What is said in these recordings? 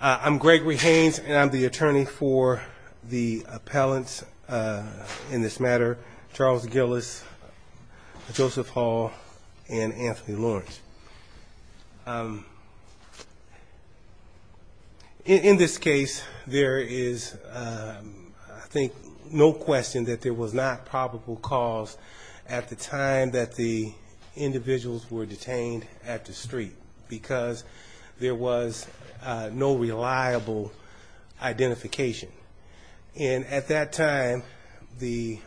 I'm Gregory Haynes and I'm the attorney for the appellants in this matter Charles Gillis, Joseph Hall and Anthony Lawrence. In this case there is I think no question that there was not probable cause at the time that the individuals were detained at the street because there was no reliable identification and at that time the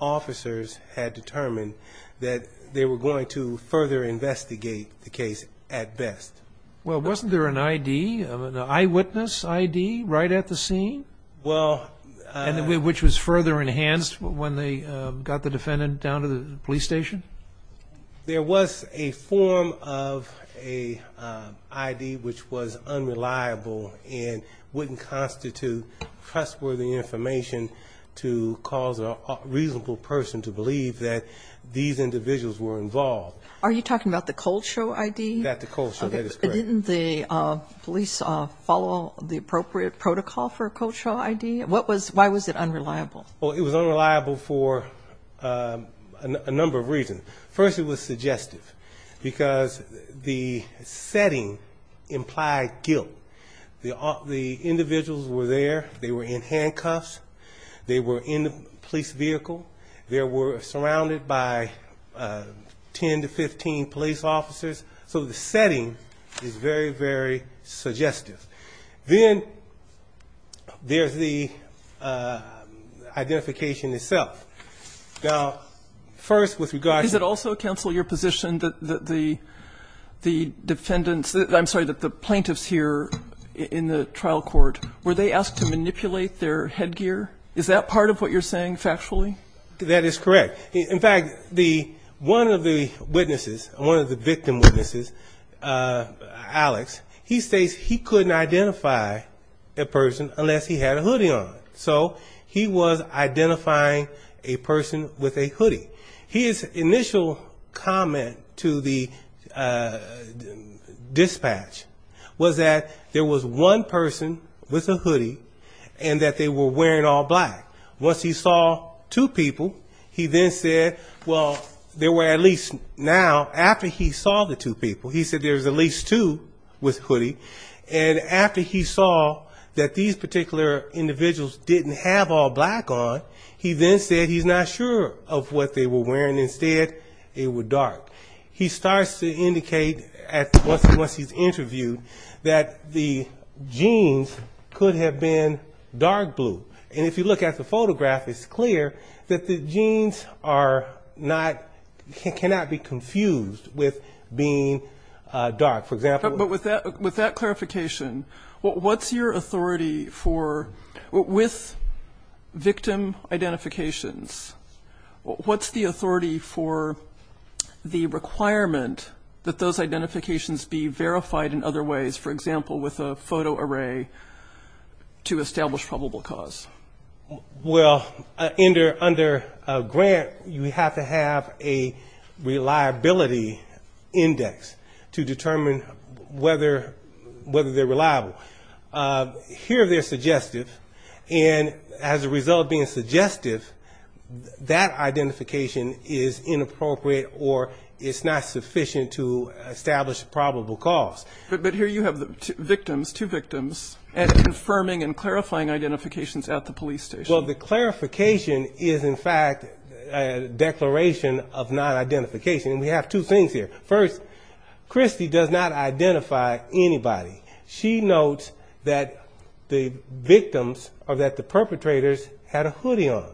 officers had determined that they were going to further investigate the case at best. Well wasn't there an ID of an eyewitness ID right at the scene? Well and which was further enhanced when they got the defendant down to the police station? There was a form of a ID which was unreliable and wouldn't constitute trustworthy information to cause a reasonable person to believe that these individuals were involved. Are you talking about the cold show ID? That the cold show that is correct. Didn't the police follow the appropriate protocol for a cold show ID? Why was it unreliable? Well it was a number of reasons. First it was suggestive because the setting implied guilt. The individuals were there, they were in handcuffs, they were in the police vehicle, they were surrounded by 10 to 15 police officers so the setting is very very suggestive. Then there's the identification itself. Now first with regard to- Is it also counsel your position that the defendants, I'm sorry that the plaintiffs here in the trial court, were they asked to manipulate their head gear? Is that part of what you're saying factually? That is correct. In fact one of the witnesses, one of the victim witnesses, Alex, he states he couldn't identify a person unless he had a hoodie on. So he was identifying a person with a hoodie. His initial comment to the dispatch was that there was one person with a hoodie and that they were wearing all black. Once he saw two people he then said, well there were at least now, after he saw the two people, he said there's at least two with a hoodie and after he saw that these particular individuals didn't have all black on, he then said he's not sure of what they were wearing. Instead it was dark. He starts to indicate once he's interviewed that the jeans could have been dark blue. And if you look at the photograph it's clear that the jeans cannot be confused with being dark. For example... But with that clarification, what's your authority for, with victim identifications, what's the authority for the requirement that those identifications be verified in other ways, for example with a photo array to under a grant you have to have a reliability index to determine whether they're reliable. Here they're suggestive and as a result of being suggestive that identification is inappropriate or it's not sufficient to establish probable cause. But here you have the victims, two victims, and confirming and clarifying identifications at the police station. Well the clarification is in fact a declaration of non-identification. We have two things here. First, Christy does not identify anybody. She notes that the victims or that the perpetrators had a hoodie on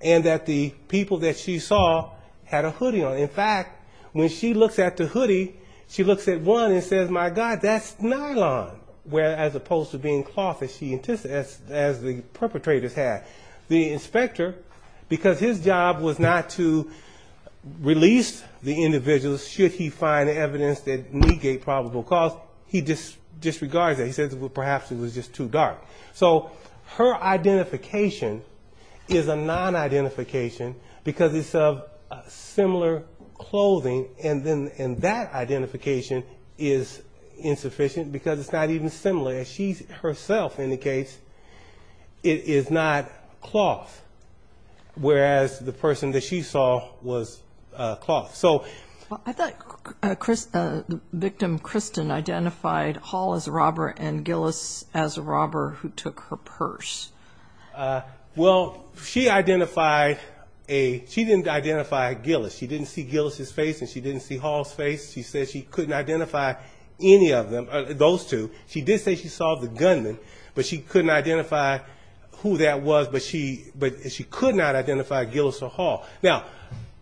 and that the people that she saw had a hoodie on. In fact, when she looks at the hoodie, she looks at one and says, my God, that's nylon, as opposed to being cloth as the perpetrators had. The inspector, because his job was not to release the individuals should he find evidence that negate probable cause, he disregards that. He says, well perhaps it was just too dark. So her identification is a non-identification because it's of similar clothing and that identification is insufficient because it's not even similar. She's herself indicates it is not cloth, whereas the person that she saw was cloth. I thought the victim, Kristen, identified Hall as a robber and Gillis as a robber who took her purse. Well, she didn't identify Gillis. She didn't see Gillis' face and she didn't see Hall's face. She said she couldn't identify any of them, those two. She did say she saw the gunman, but she couldn't identify who that was, but she could not identify Gillis or Hall. Now,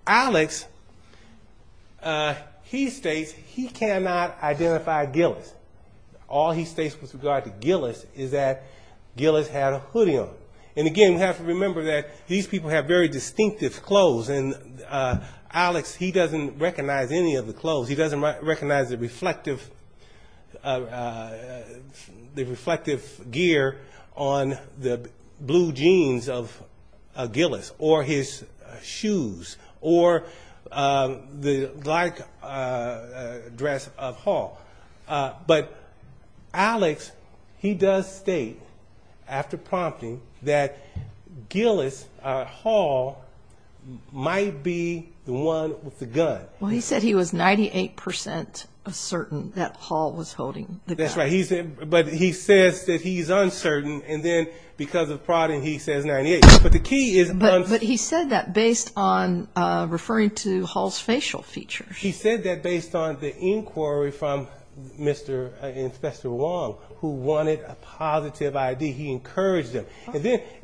Alex, he states he cannot identify Gillis. All he states with regard to Gillis is that Gillis had a hoodie on. And again, we have to remember that these people have very distinctive clothes. And Alex, he doesn't recognize any of the clothes. He doesn't recognize the reflective gear on the blue jeans of Gillis or his shoes or the dress of Hall. But Alex, he does state, after prompting, that Gillis Hall might be the one with the gun. Well, he said he was 98% certain that Hall was holding the gun. That's right. But he says that he's uncertain. And then because of prodding, he says 98. But he said that based on referring to Hall's facial features. He said that based on the inquiry from Mr. Inspector Wong, who wanted a positive ID. He encouraged him.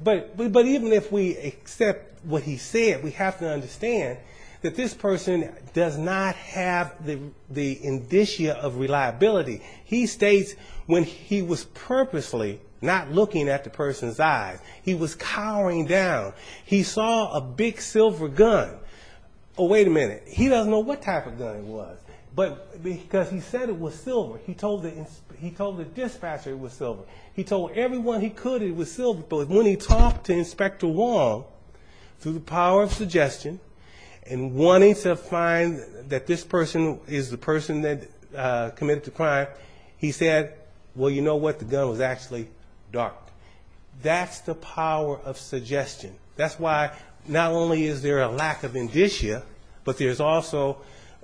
But even if we accept what he said, we have to understand that this person does not have the indicia of reliability. He states when he was purposely not looking at the person's eyes, he was cowering down. He saw a big silver gun. Oh, wait a minute. He doesn't know what type of gun it was, but because he said it was silver, he told the dispatcher it was silver. He told everyone he could it was silver. But when he talked to Inspector Wong, through the power of suggestion, and wanting to find that this person is the person that committed the crime, he said, well, you know what? The gun was actually dark. That's the power of suggestion. That's why not only is there a lack of indicia, but there's also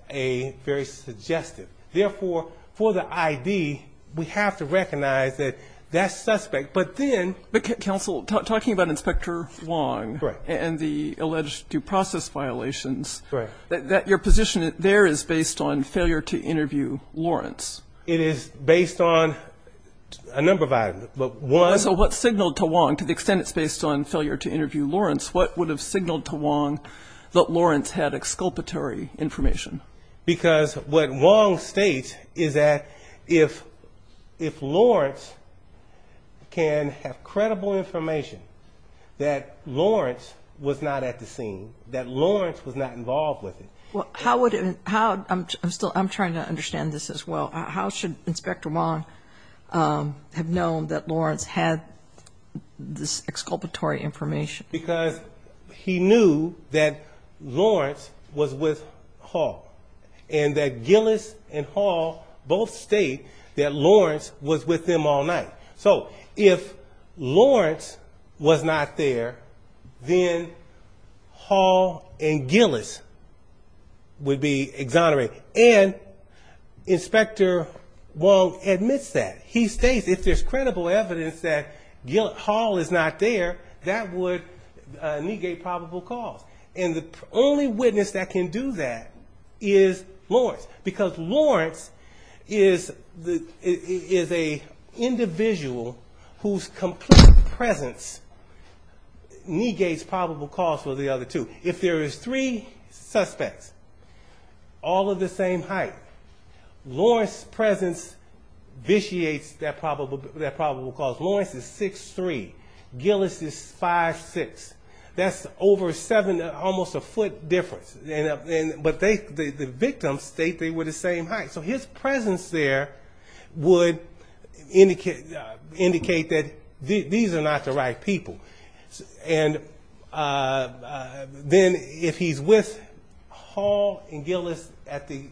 a very suggestive. Therefore, for the ID, we have to recognize that that suspect, but then... But Counsel, talking about Inspector Wong and the alleged due process violations, that your position there is based on failure to interview Lawrence. It is based on a number of items, but one... So what signaled to Wong, to the extent it's based on failure to interview Lawrence, what would have signaled to Wong that Lawrence had exculpatory information? Because what Wong states is that if Lawrence can have credible information, that Lawrence was not at the scene, that Lawrence was not involved with it. How would it... I'm trying to understand this as well. How should Inspector Wong have known that Lawrence had this exculpatory information? Because he knew that Lawrence was with Hall, and that Gillis and Hall both state that Lawrence was with them all night. So if Lawrence was not there, then Hall and Gillis would be exonerated. And Inspector Wong admits that. He states if there's credible evidence that Hall is not there, that would negate probable cause. And the only witness that can do that is Lawrence. Because Lawrence is an individual whose complete presence negates probable cause for the other two. If there is three suspects, all of the same height, Lawrence's presence vitiates that probable cause. Lawrence is 6'3", Gillis is 5'6". That's almost a foot difference. But the victims state they were the same height. So his presence there would indicate that these are not the right people. Then if he's with Hall and Gillis at the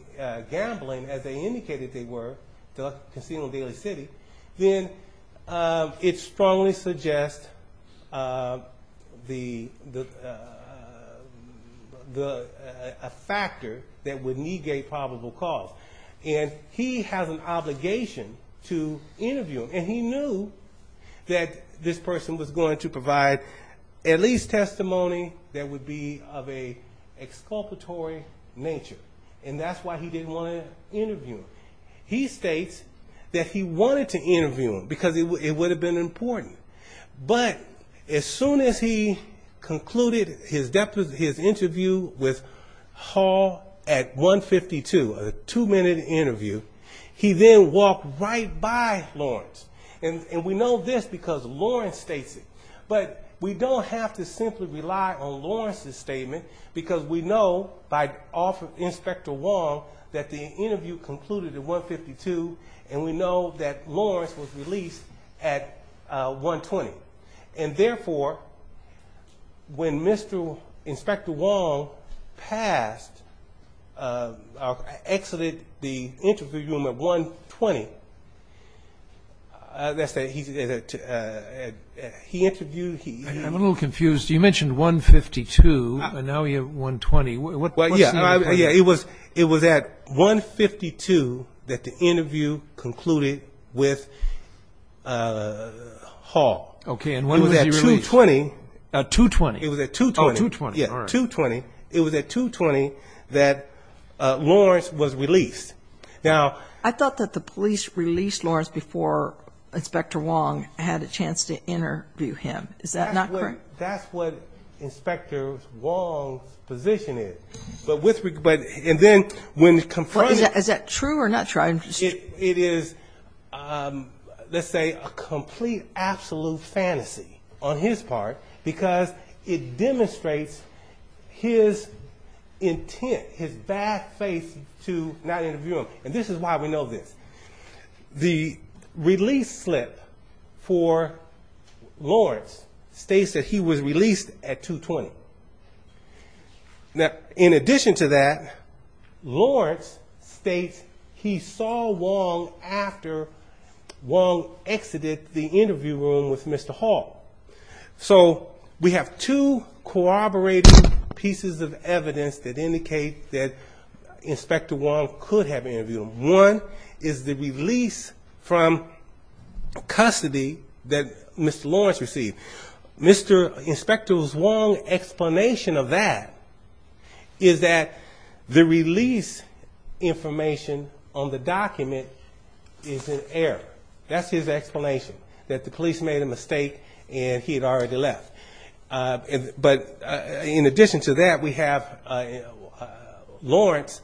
gambling, as they indicated they were, the Casino Daily City, then it strongly suggests a factor that would negate probable cause. And he has an obligation to interview him. And he knew that this person was going to provide at least testimony that would be of an exculpatory nature. And that's why he didn't want to interview him. He states that he wanted to interview him because it would have been important. But as soon as he concluded his interview with Hall at 152, a two minute interview, he then walked right by Lawrence. And we know this because Lawrence states it. But we don't have to simply rely on Lawrence's statement because we know by Inspector Wong that the interview concluded at 152 and we know that Lawrence was released at 120. And therefore when Inspector Wong exited the interview room at 120, he interviewed... I'm a little confused. You mentioned 152 and now we have 120. It was at 152 that the interview concluded with Hall. It was at 220 that Lawrence was released. I thought that the police released Lawrence before Inspector Wong had a chance to interview him. Is that not correct? That's what Inspector Wong's position is. Is that true or not true? It is, let's say, a complete absolute fantasy on his part because it demonstrates his intent, his bad faith to not interview him. And this is why we know this. The release slip for Lawrence states that he was released at 220. In addition to that, Lawrence states he saw Wong after Wong exited the interview room with Mr. Hall. We have two corroborated pieces of evidence that indicate that Inspector Wong could have interviewed him. One is the release from custody that Mr. Lawrence received. Inspector Wong's explanation of that is that the release information on the document is in error. That's his explanation, that the police made a mistake and he had already left. In addition to that, we have Lawrence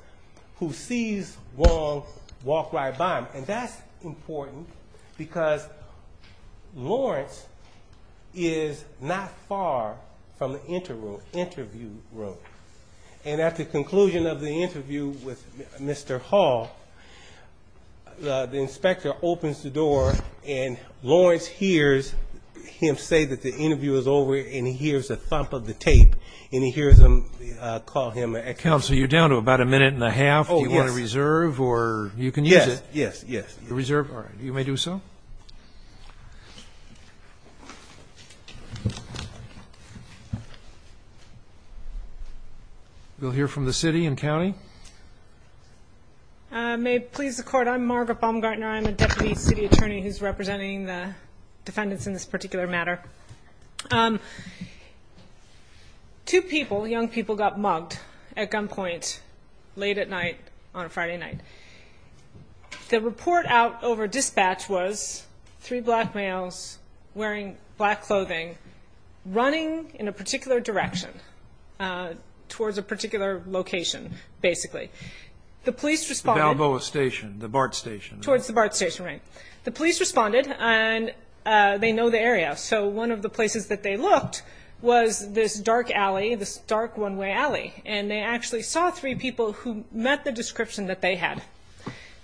who sees Wong walk right by him. That's important because Lawrence is not far from the interview room. And at the conclusion of the interview with Mr. Hall, the inspector opens the door and Lawrence hears him say that the interview is over and he hears the thump of the tape and he hears him call him. You're down to about a minute and a half. Do you want to reserve or you can use it? Yes. We'll hear from the city and county. I'm Margaret Baumgartner. I'm a deputy city attorney who's representing the defendants in this particular matter. Two people, young people, got mugged at gunpoint late at night on a Friday night. The report out over dispatch was three black males wearing black clothing running in a particular direction towards a particular location, basically. The police responded. The Balboa station, the BART station. Towards the BART station, right. The police responded and they know the area. So one of the places that they looked was this dark alley, this dark one-way alley. And they actually saw three people who met the description that they had.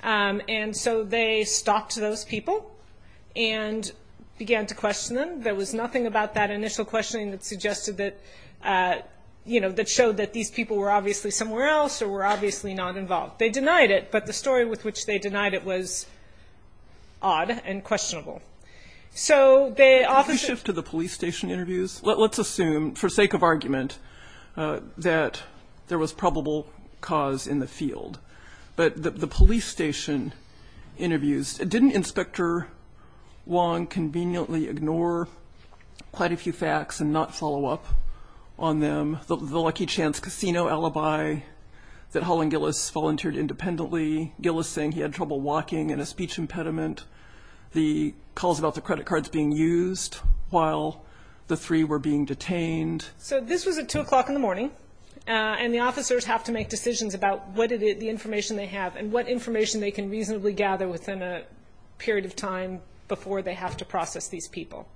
And so they stalked those people and began to question them. There was nothing about that initial questioning that showed that these people were obviously somewhere else or were obviously not involved. They denied it, but the story with which they Did you shift to the police station interviews? Let's assume, for sake of argument, that there was probable cause in the field. But the police station interviews, didn't Inspector Wong conveniently ignore quite a few facts and not follow up on them? The lucky chance casino alibi that Holland Gillis volunteered independently. Gillis saying he had trouble walking and a speech impediment. The calls about the credit cards being used while the three were being detained. So this was at 2 o'clock in the morning. And the officers have to make decisions about what information they have and what information they can reasonably gather within a period of time before they have to process these people.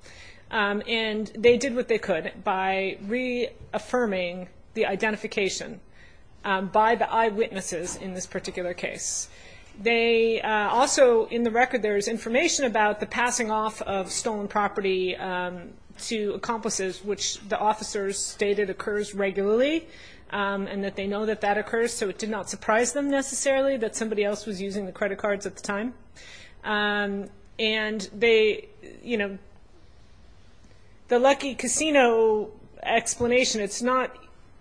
And they did what they could by reaffirming the Also, in the record, there is information about the passing off of stolen property to accomplices, which the officers stated occurs regularly. And that they know that that occurs. So it did not surprise them necessarily that somebody else was using the credit cards at the time. And they, you know, the lucky casino explanation, it's not,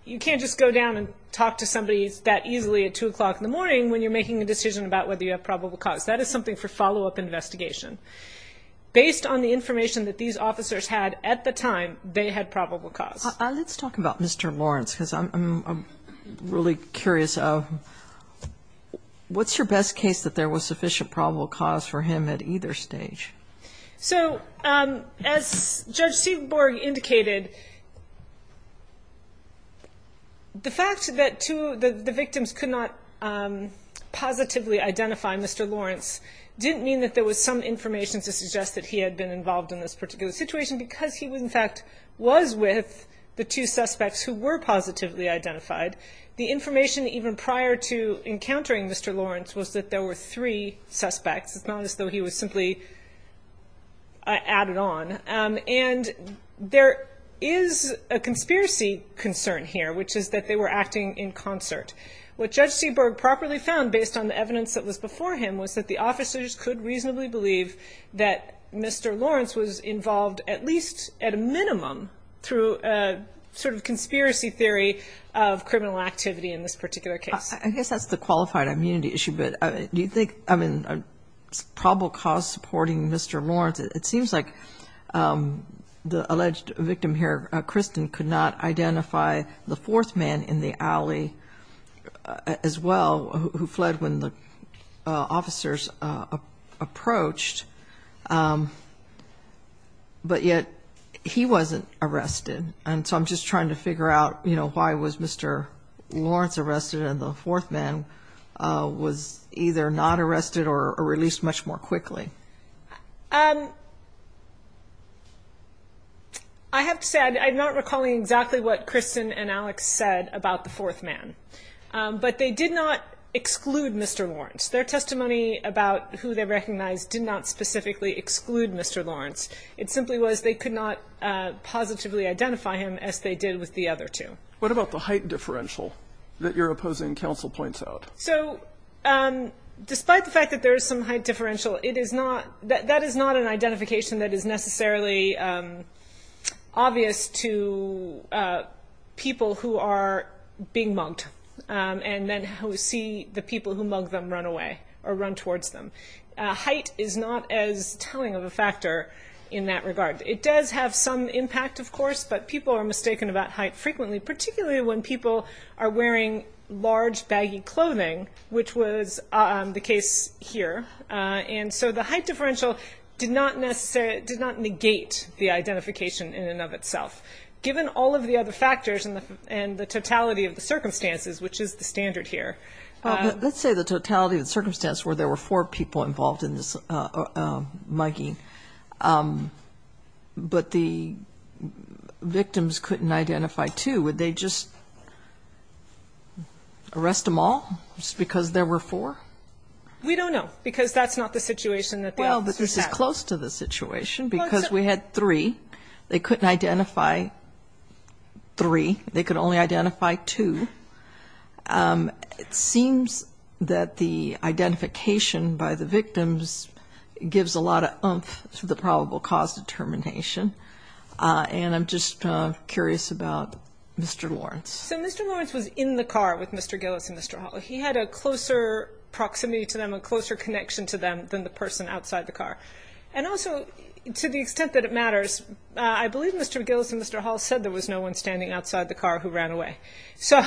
you can't just go down and talk to somebody that easily at 2 o'clock in the morning when you're making a decision about whether you have probable cause. That is something for follow up investigation. Based on the information that these officers had at the time, they had probable cause. Let's talk about Mr. Lawrence, because I'm really curious. What's your best case that there was sufficient probable cause for him at either stage? So as Judge said, the fact that the victims could not positively identify Mr. Lawrence didn't mean that there was some information to suggest that he had been involved in this particular situation because he was in fact was with the two suspects who were positively identified. The information even prior to encountering Mr. Lawrence was that there were three suspects. It's not as though he was simply added on. And there is a conspiracy concern here, which is that they were acting in concert. What Judge Seaberg properly found based on the evidence that was before him was that the officers could reasonably believe that Mr. Lawrence was involved at least at a minimum through a sort of conspiracy theory of criminal activity in this particular case. I guess that's the qualified immunity issue. But do you think, I mean, there's probable cause supporting Mr. Lawrence. It seems like the alleged victim here, Kristen, could not identify the fourth man in the alley as well who fled when the officers approached, but yet he wasn't arrested. And so I'm just trying to figure out, you know, why was Mr. Lawrence arrested and the fourth man was either not arrested or released much more quickly? I have to say, I'm not recalling exactly what Kristen and Alex said about the fourth man. But they did not exclude Mr. Lawrence. Their testimony about who they recognized did not specifically exclude Mr. Lawrence. It simply was they could not So, despite the fact that there is some height differential, that is not an identification that is necessarily obvious to people who are being mugged and then who see the people who mug them run away or run towards them. Height is not as telling of a factor in that regard. It does have some to do with wearing large, baggy clothing, which was the case here. And so the height differential did not negate the identification in and of itself. Given all of the other factors and the totality of the circumstances, which is the standard here. Let's say the totality of the circumstance where there were four people involved in this mugging, but the victims couldn't identify two. Would they just arrest them all just because there were four? We don't know, because that's not the situation that they sat in. Well, this is close to the situation, because we had three. They couldn't identify three. They could only identify two. It seems that the identification by the victims was enough for the probable cause determination. And I'm just curious about Mr. Lawrence. So Mr. Lawrence was in the car with Mr. Gillis and Mr. Hall. He had a closer proximity to them, a closer connection to them than the person outside the car. And also, to the extent that it matters, I believe Mr. Gillis and Mr. Hall said there was no one standing outside the car who ran away. So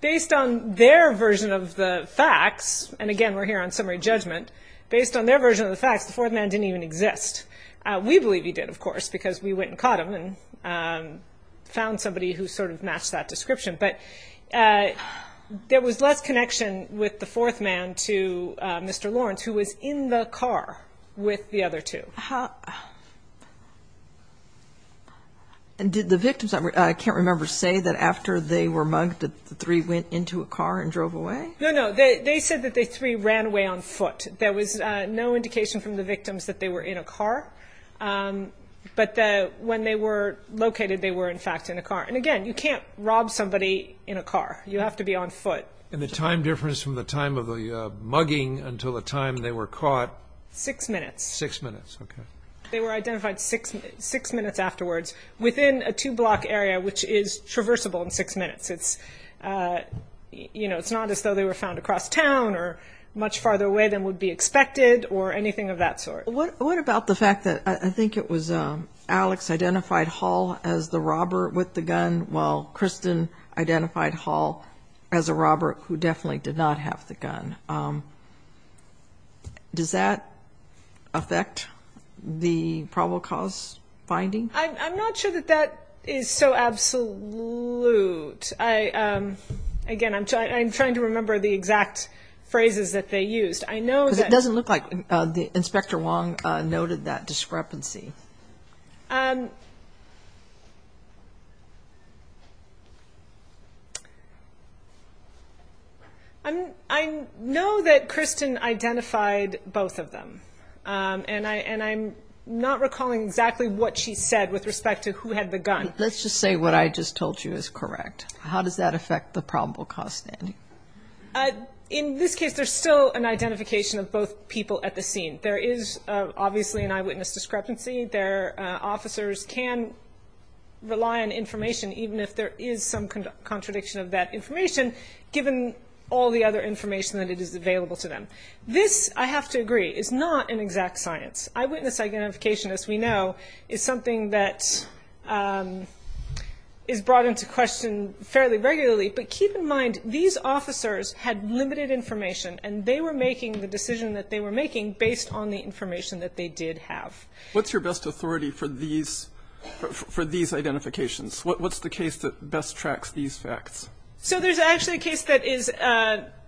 based on their version of the facts, and again, we're here on summary judgment, based on their version of the facts, the fourth man didn't even exist. We believe he did, of course, because we went and caught him and found somebody who sort of matched that description. But there was less connection with the fourth man to Mr. Lawrence, who was in the car with the other two. And did the victims, I can't remember, say that after they were mugged, the three went into a car and drove away? No, no. They said that the three ran away on foot. There was no indication from the victims that they were in a car. But when they were located, they were, in fact, in a car. And again, you can't rob somebody in a car. You have to be on foot. And the time difference from the time of the mugging until the time they were caught? Six minutes. Six minutes, okay. They were identified six minutes afterwards within a two-block area, which is traversable in six minutes. It's not as though they were found across town or much farther away than would be expected or anything of that sort. What about the fact that I think it was Alex identified Hall as the robber with the gun, while Kristen identified Hall as a robber who definitely did not have the gun? Does that affect the probable cause finding? I'm not sure that that is so absolute. Again, I'm trying to remember the exact phrases that they used. Because it doesn't look like Inspector Wong noted that discrepancy. I know that Kristen identified both of them, and I'm not recalling exactly what she said with respect to who had the gun. But let's just say what I just told you is correct. How does that affect the probable cause finding? In this case, there's still an identification of both people at the scene. There is obviously an eyewitness discrepancy. Their officers can rely on information, even if there is some contradiction of that information, given all the other information that is available to them. This, I have to agree, is not an exact science. Eyewitness identification, as we know, is something that is brought into question fairly regularly. But keep in mind, these officers had limited information, and they were making the decision that they were making based on the information that they did have. What's your best authority for these identifications? What's the case that best tracks these facts? There's actually a case that is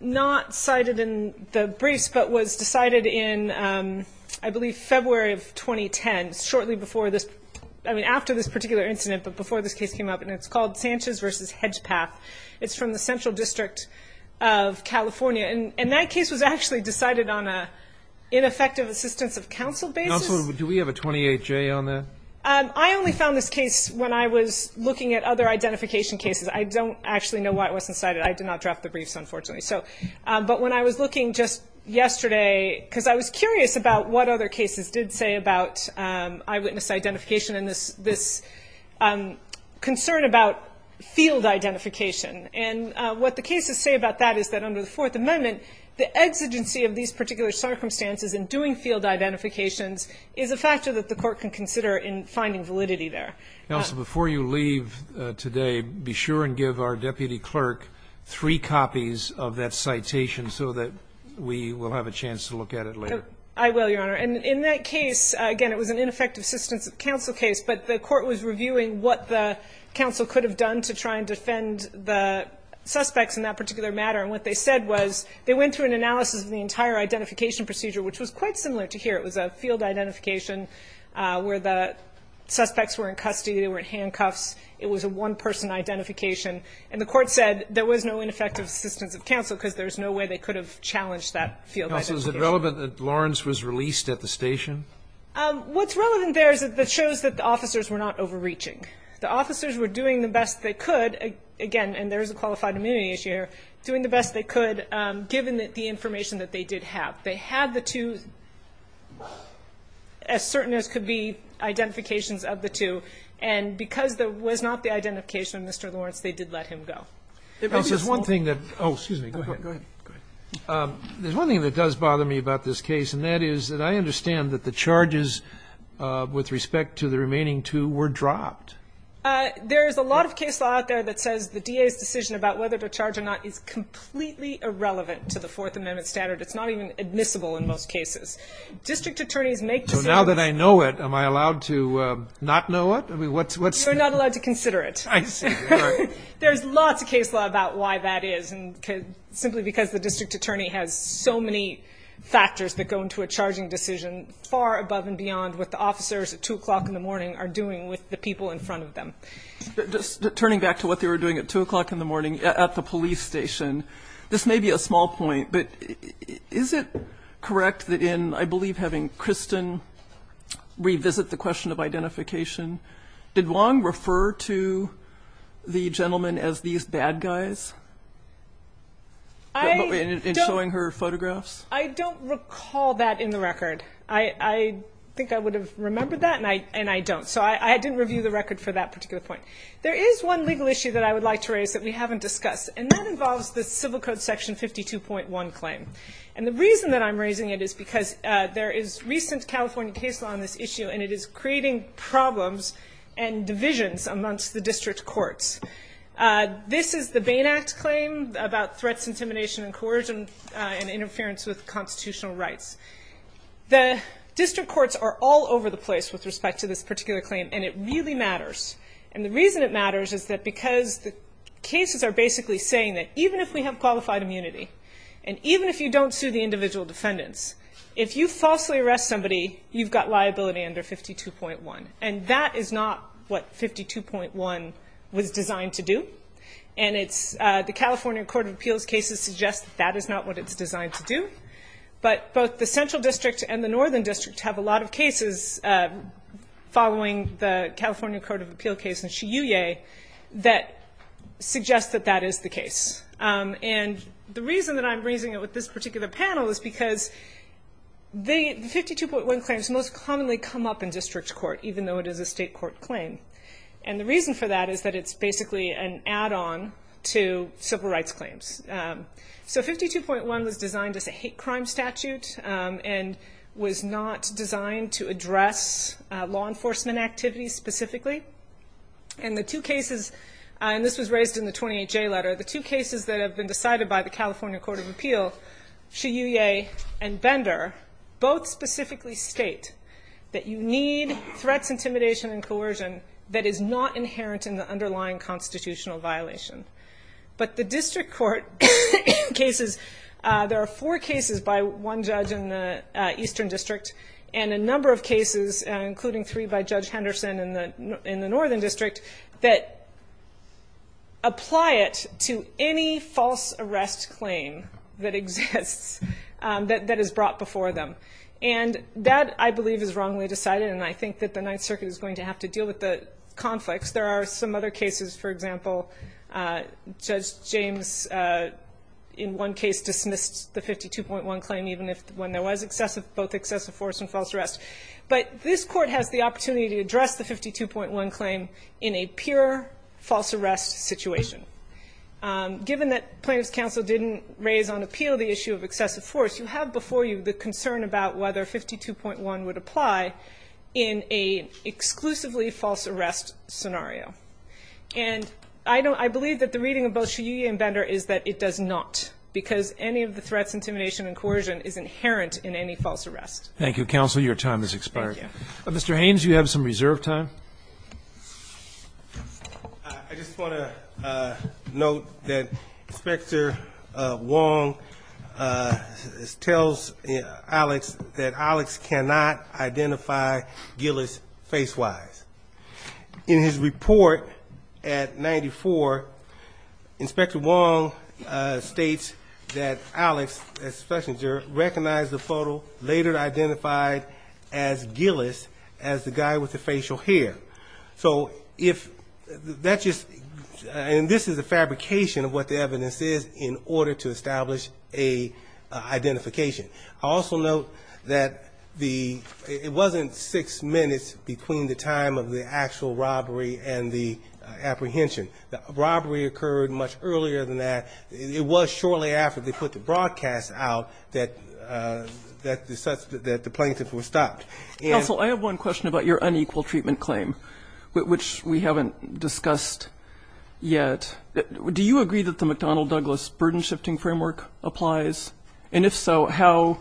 not cited in the briefs, but was decided in, I believe, February of 2010, shortly after this particular incident, but before this case came up, and it's called Sanchez v. Hedgepath. It's from the Central District of California, and that case was actually decided on an ineffective assistance of counsel basis. Counsel, do we have a 28-J on that? I only found this case when I was looking at other identification cases. I don't actually know why it wasn't cited. I did not draft the briefs, unfortunately. But when I was looking just yesterday, because I was curious about what other cases did say about eyewitness identification and this concern about field identification. And what the cases say about that is that under the Fourth Amendment, the exigency of these particular circumstances in doing field identifications is a factor that the court can consider in finding validity there. Counsel, before you leave today, be sure and give our deputy clerk three copies of that citation so that we will have a chance to look at it later. I will, Your Honor. And in that case, again, it was an ineffective assistance of counsel case, but the court was reviewing what the counsel could have done to try and defend the suspects in that particular matter. And what they said was they went through an analysis of the entire identification procedure, which was quite similar to here. It was a field identification where the suspects were in custody, they were in handcuffs. It was a one-person identification. And the court said there was no ineffective assistance of counsel because there was no way they could have challenged that field identification. Counsel, is it relevant that Lawrence was released at the station? What's relevant there is that it shows that the officers were not overreaching. The officers were doing the best they could, again, and there is a qualified immunity issue here, doing the best they could given the information that they did have. They had the two, as certain as could be, identifications of the two, and because there was not the identification of Mr. Lawrence, they did let him go. There's one thing that does bother me about this case, and that is that I understand that the charges with respect to the remaining two were dropped. There is a lot of case law out there that says the DA's decision about whether to charge or not is completely irrelevant to the Fourth Amendment standard. It's not even admissible in most cases. District attorneys make decisions. So now that I know it, am I allowed to not know it? You're not allowed to consider it. There's lots of case law about why that is, simply because the district attorney has so many factors that go into a charging decision far above and beyond what the officers at 2 o'clock in the morning are doing with the people in front of them. Just turning back to what they were doing at 2 o'clock in the morning at the police station, this may be a small point, but is it correct that in, I believe, having Kristen revisit the question of identification, did Wong refer to the gentleman as these bad guys in showing her photographs? I don't recall that in the record. I think I would have remembered that, and I don't. So I didn't review the record for that particular point. There is one legal issue that I would like to raise that we haven't discussed, and that involves the Civil Code section 52.1 claim. And the reason that I'm raising it is because there is recent California case law on this issue, and it is creating problems and divisions amongst the district courts. This is the Bain Act claim about threats, intimidation, and coercion and interference with constitutional rights. The district courts are all over the place with respect to this particular claim, and it really matters. And the reason it matters is because the cases are basically saying that even if we have qualified immunity, and even if you don't sue the individual defendants, if you falsely arrest somebody, you've got liability under 52.1. And that is not what 52.1 was designed to do. And the California Court of Appeals cases suggest that that is not what it's designed to do. But both the Central District and the Northern District have a lot of cases following the California Court of Appeals case in Shiyue that suggest that that is the case. And the reason that I'm raising it with this particular panel is because the 52.1 claim is most commonly come up in district court, even though it is a state court claim. And the reason for that is that it's basically an add-on to civil rights claims. So 52.1 was designed as a hate crime statute and was not designed to address law enforcement activities specifically. And the two cases, and this was raised in the 28J letter, the two cases that have been decided by the California Court of Appeals, Shiyue and Bender, both specifically state that you need threats, intimidation, and coercion that is not inherent in the underlying constitutional violation. But the district court cases, there are four cases by one judge in the Eastern District and a number of cases, including three by Judge Henderson in the Northern District, that apply it to any false arrest claim that exists, that is brought before the court. And that, I believe, is wrongly decided, and I think that the Ninth Circuit is going to have to deal with the conflicts. There are some other cases, for example, Judge James in one case dismissed the 52.1 claim, even when there was both excessive force and false arrest. But this court has the opportunity to address the 52.1 claim in a pure false arrest situation. Given that plaintiff's counsel didn't raise on appeal the issue of excessive force, you have before you the concern about whether 52.1 would apply in an exclusively false arrest scenario. And I believe that the reading of both Shiyue and Bender is that it does not, because any of the threats, intimidation, and coercion is inherent in any false arrest. Thank you, counsel. Your time has expired. Mr. Haynes, you have some reserve time. I just want to note that Inspector Wong tells Alex that Alex cannot identify Gillis face-wise. In his report at 94, Inspector Wong states that Alex, recognized the photo, later identified as Gillis, as the guy with the facial hair. And this is a fabrication of what the evidence is in order to establish a identification. I also note that it wasn't six minutes between the time of the actual robbery and the apprehension. The robbery occurred much earlier than that. It was shortly after they put the broadcast out that the plaintiff was stopped. Counsel, I have one question about your unequal treatment claim, which we haven't discussed yet. Do you agree that the McDonnell-Douglas burden-shifting framework applies? And if so, how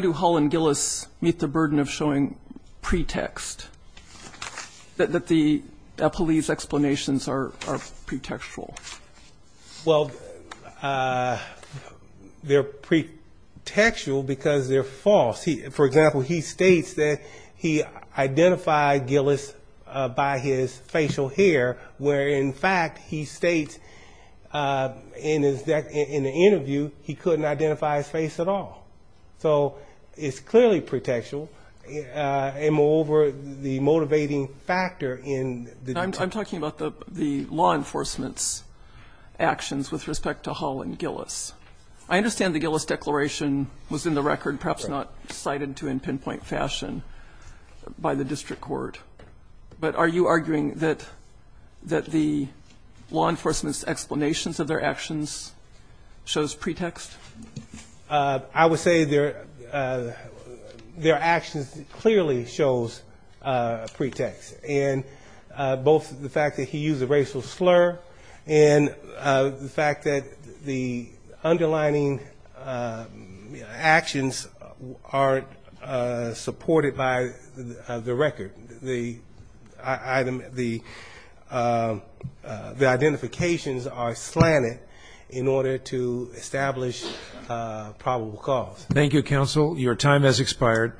do Hull and Gillis meet the burden of showing pretext that the police explanations are pretextual? Well, they're pretextual because they're false. For example, he states that he identified Gillis by his facial hair, where in fact he states in the interview he couldn't identify his face at all. So it's clearly pretextual. And moreover, the motivating factor in the debate. I'm talking about the law enforcement's actions with respect to Hull and Gillis. I understand the Gillis declaration was in the record, perhaps not cited to in pinpoint fashion by the district court, but are you arguing that the law enforcement's explanations of their actions shows pretext? I would say their actions clearly shows pretext. And both the fact that he used a racial slur and the fact that the underlining actions aren't supported by the record. The identifications are slanted in order to establish probable cause. Thank you, counsel. Your time has expired.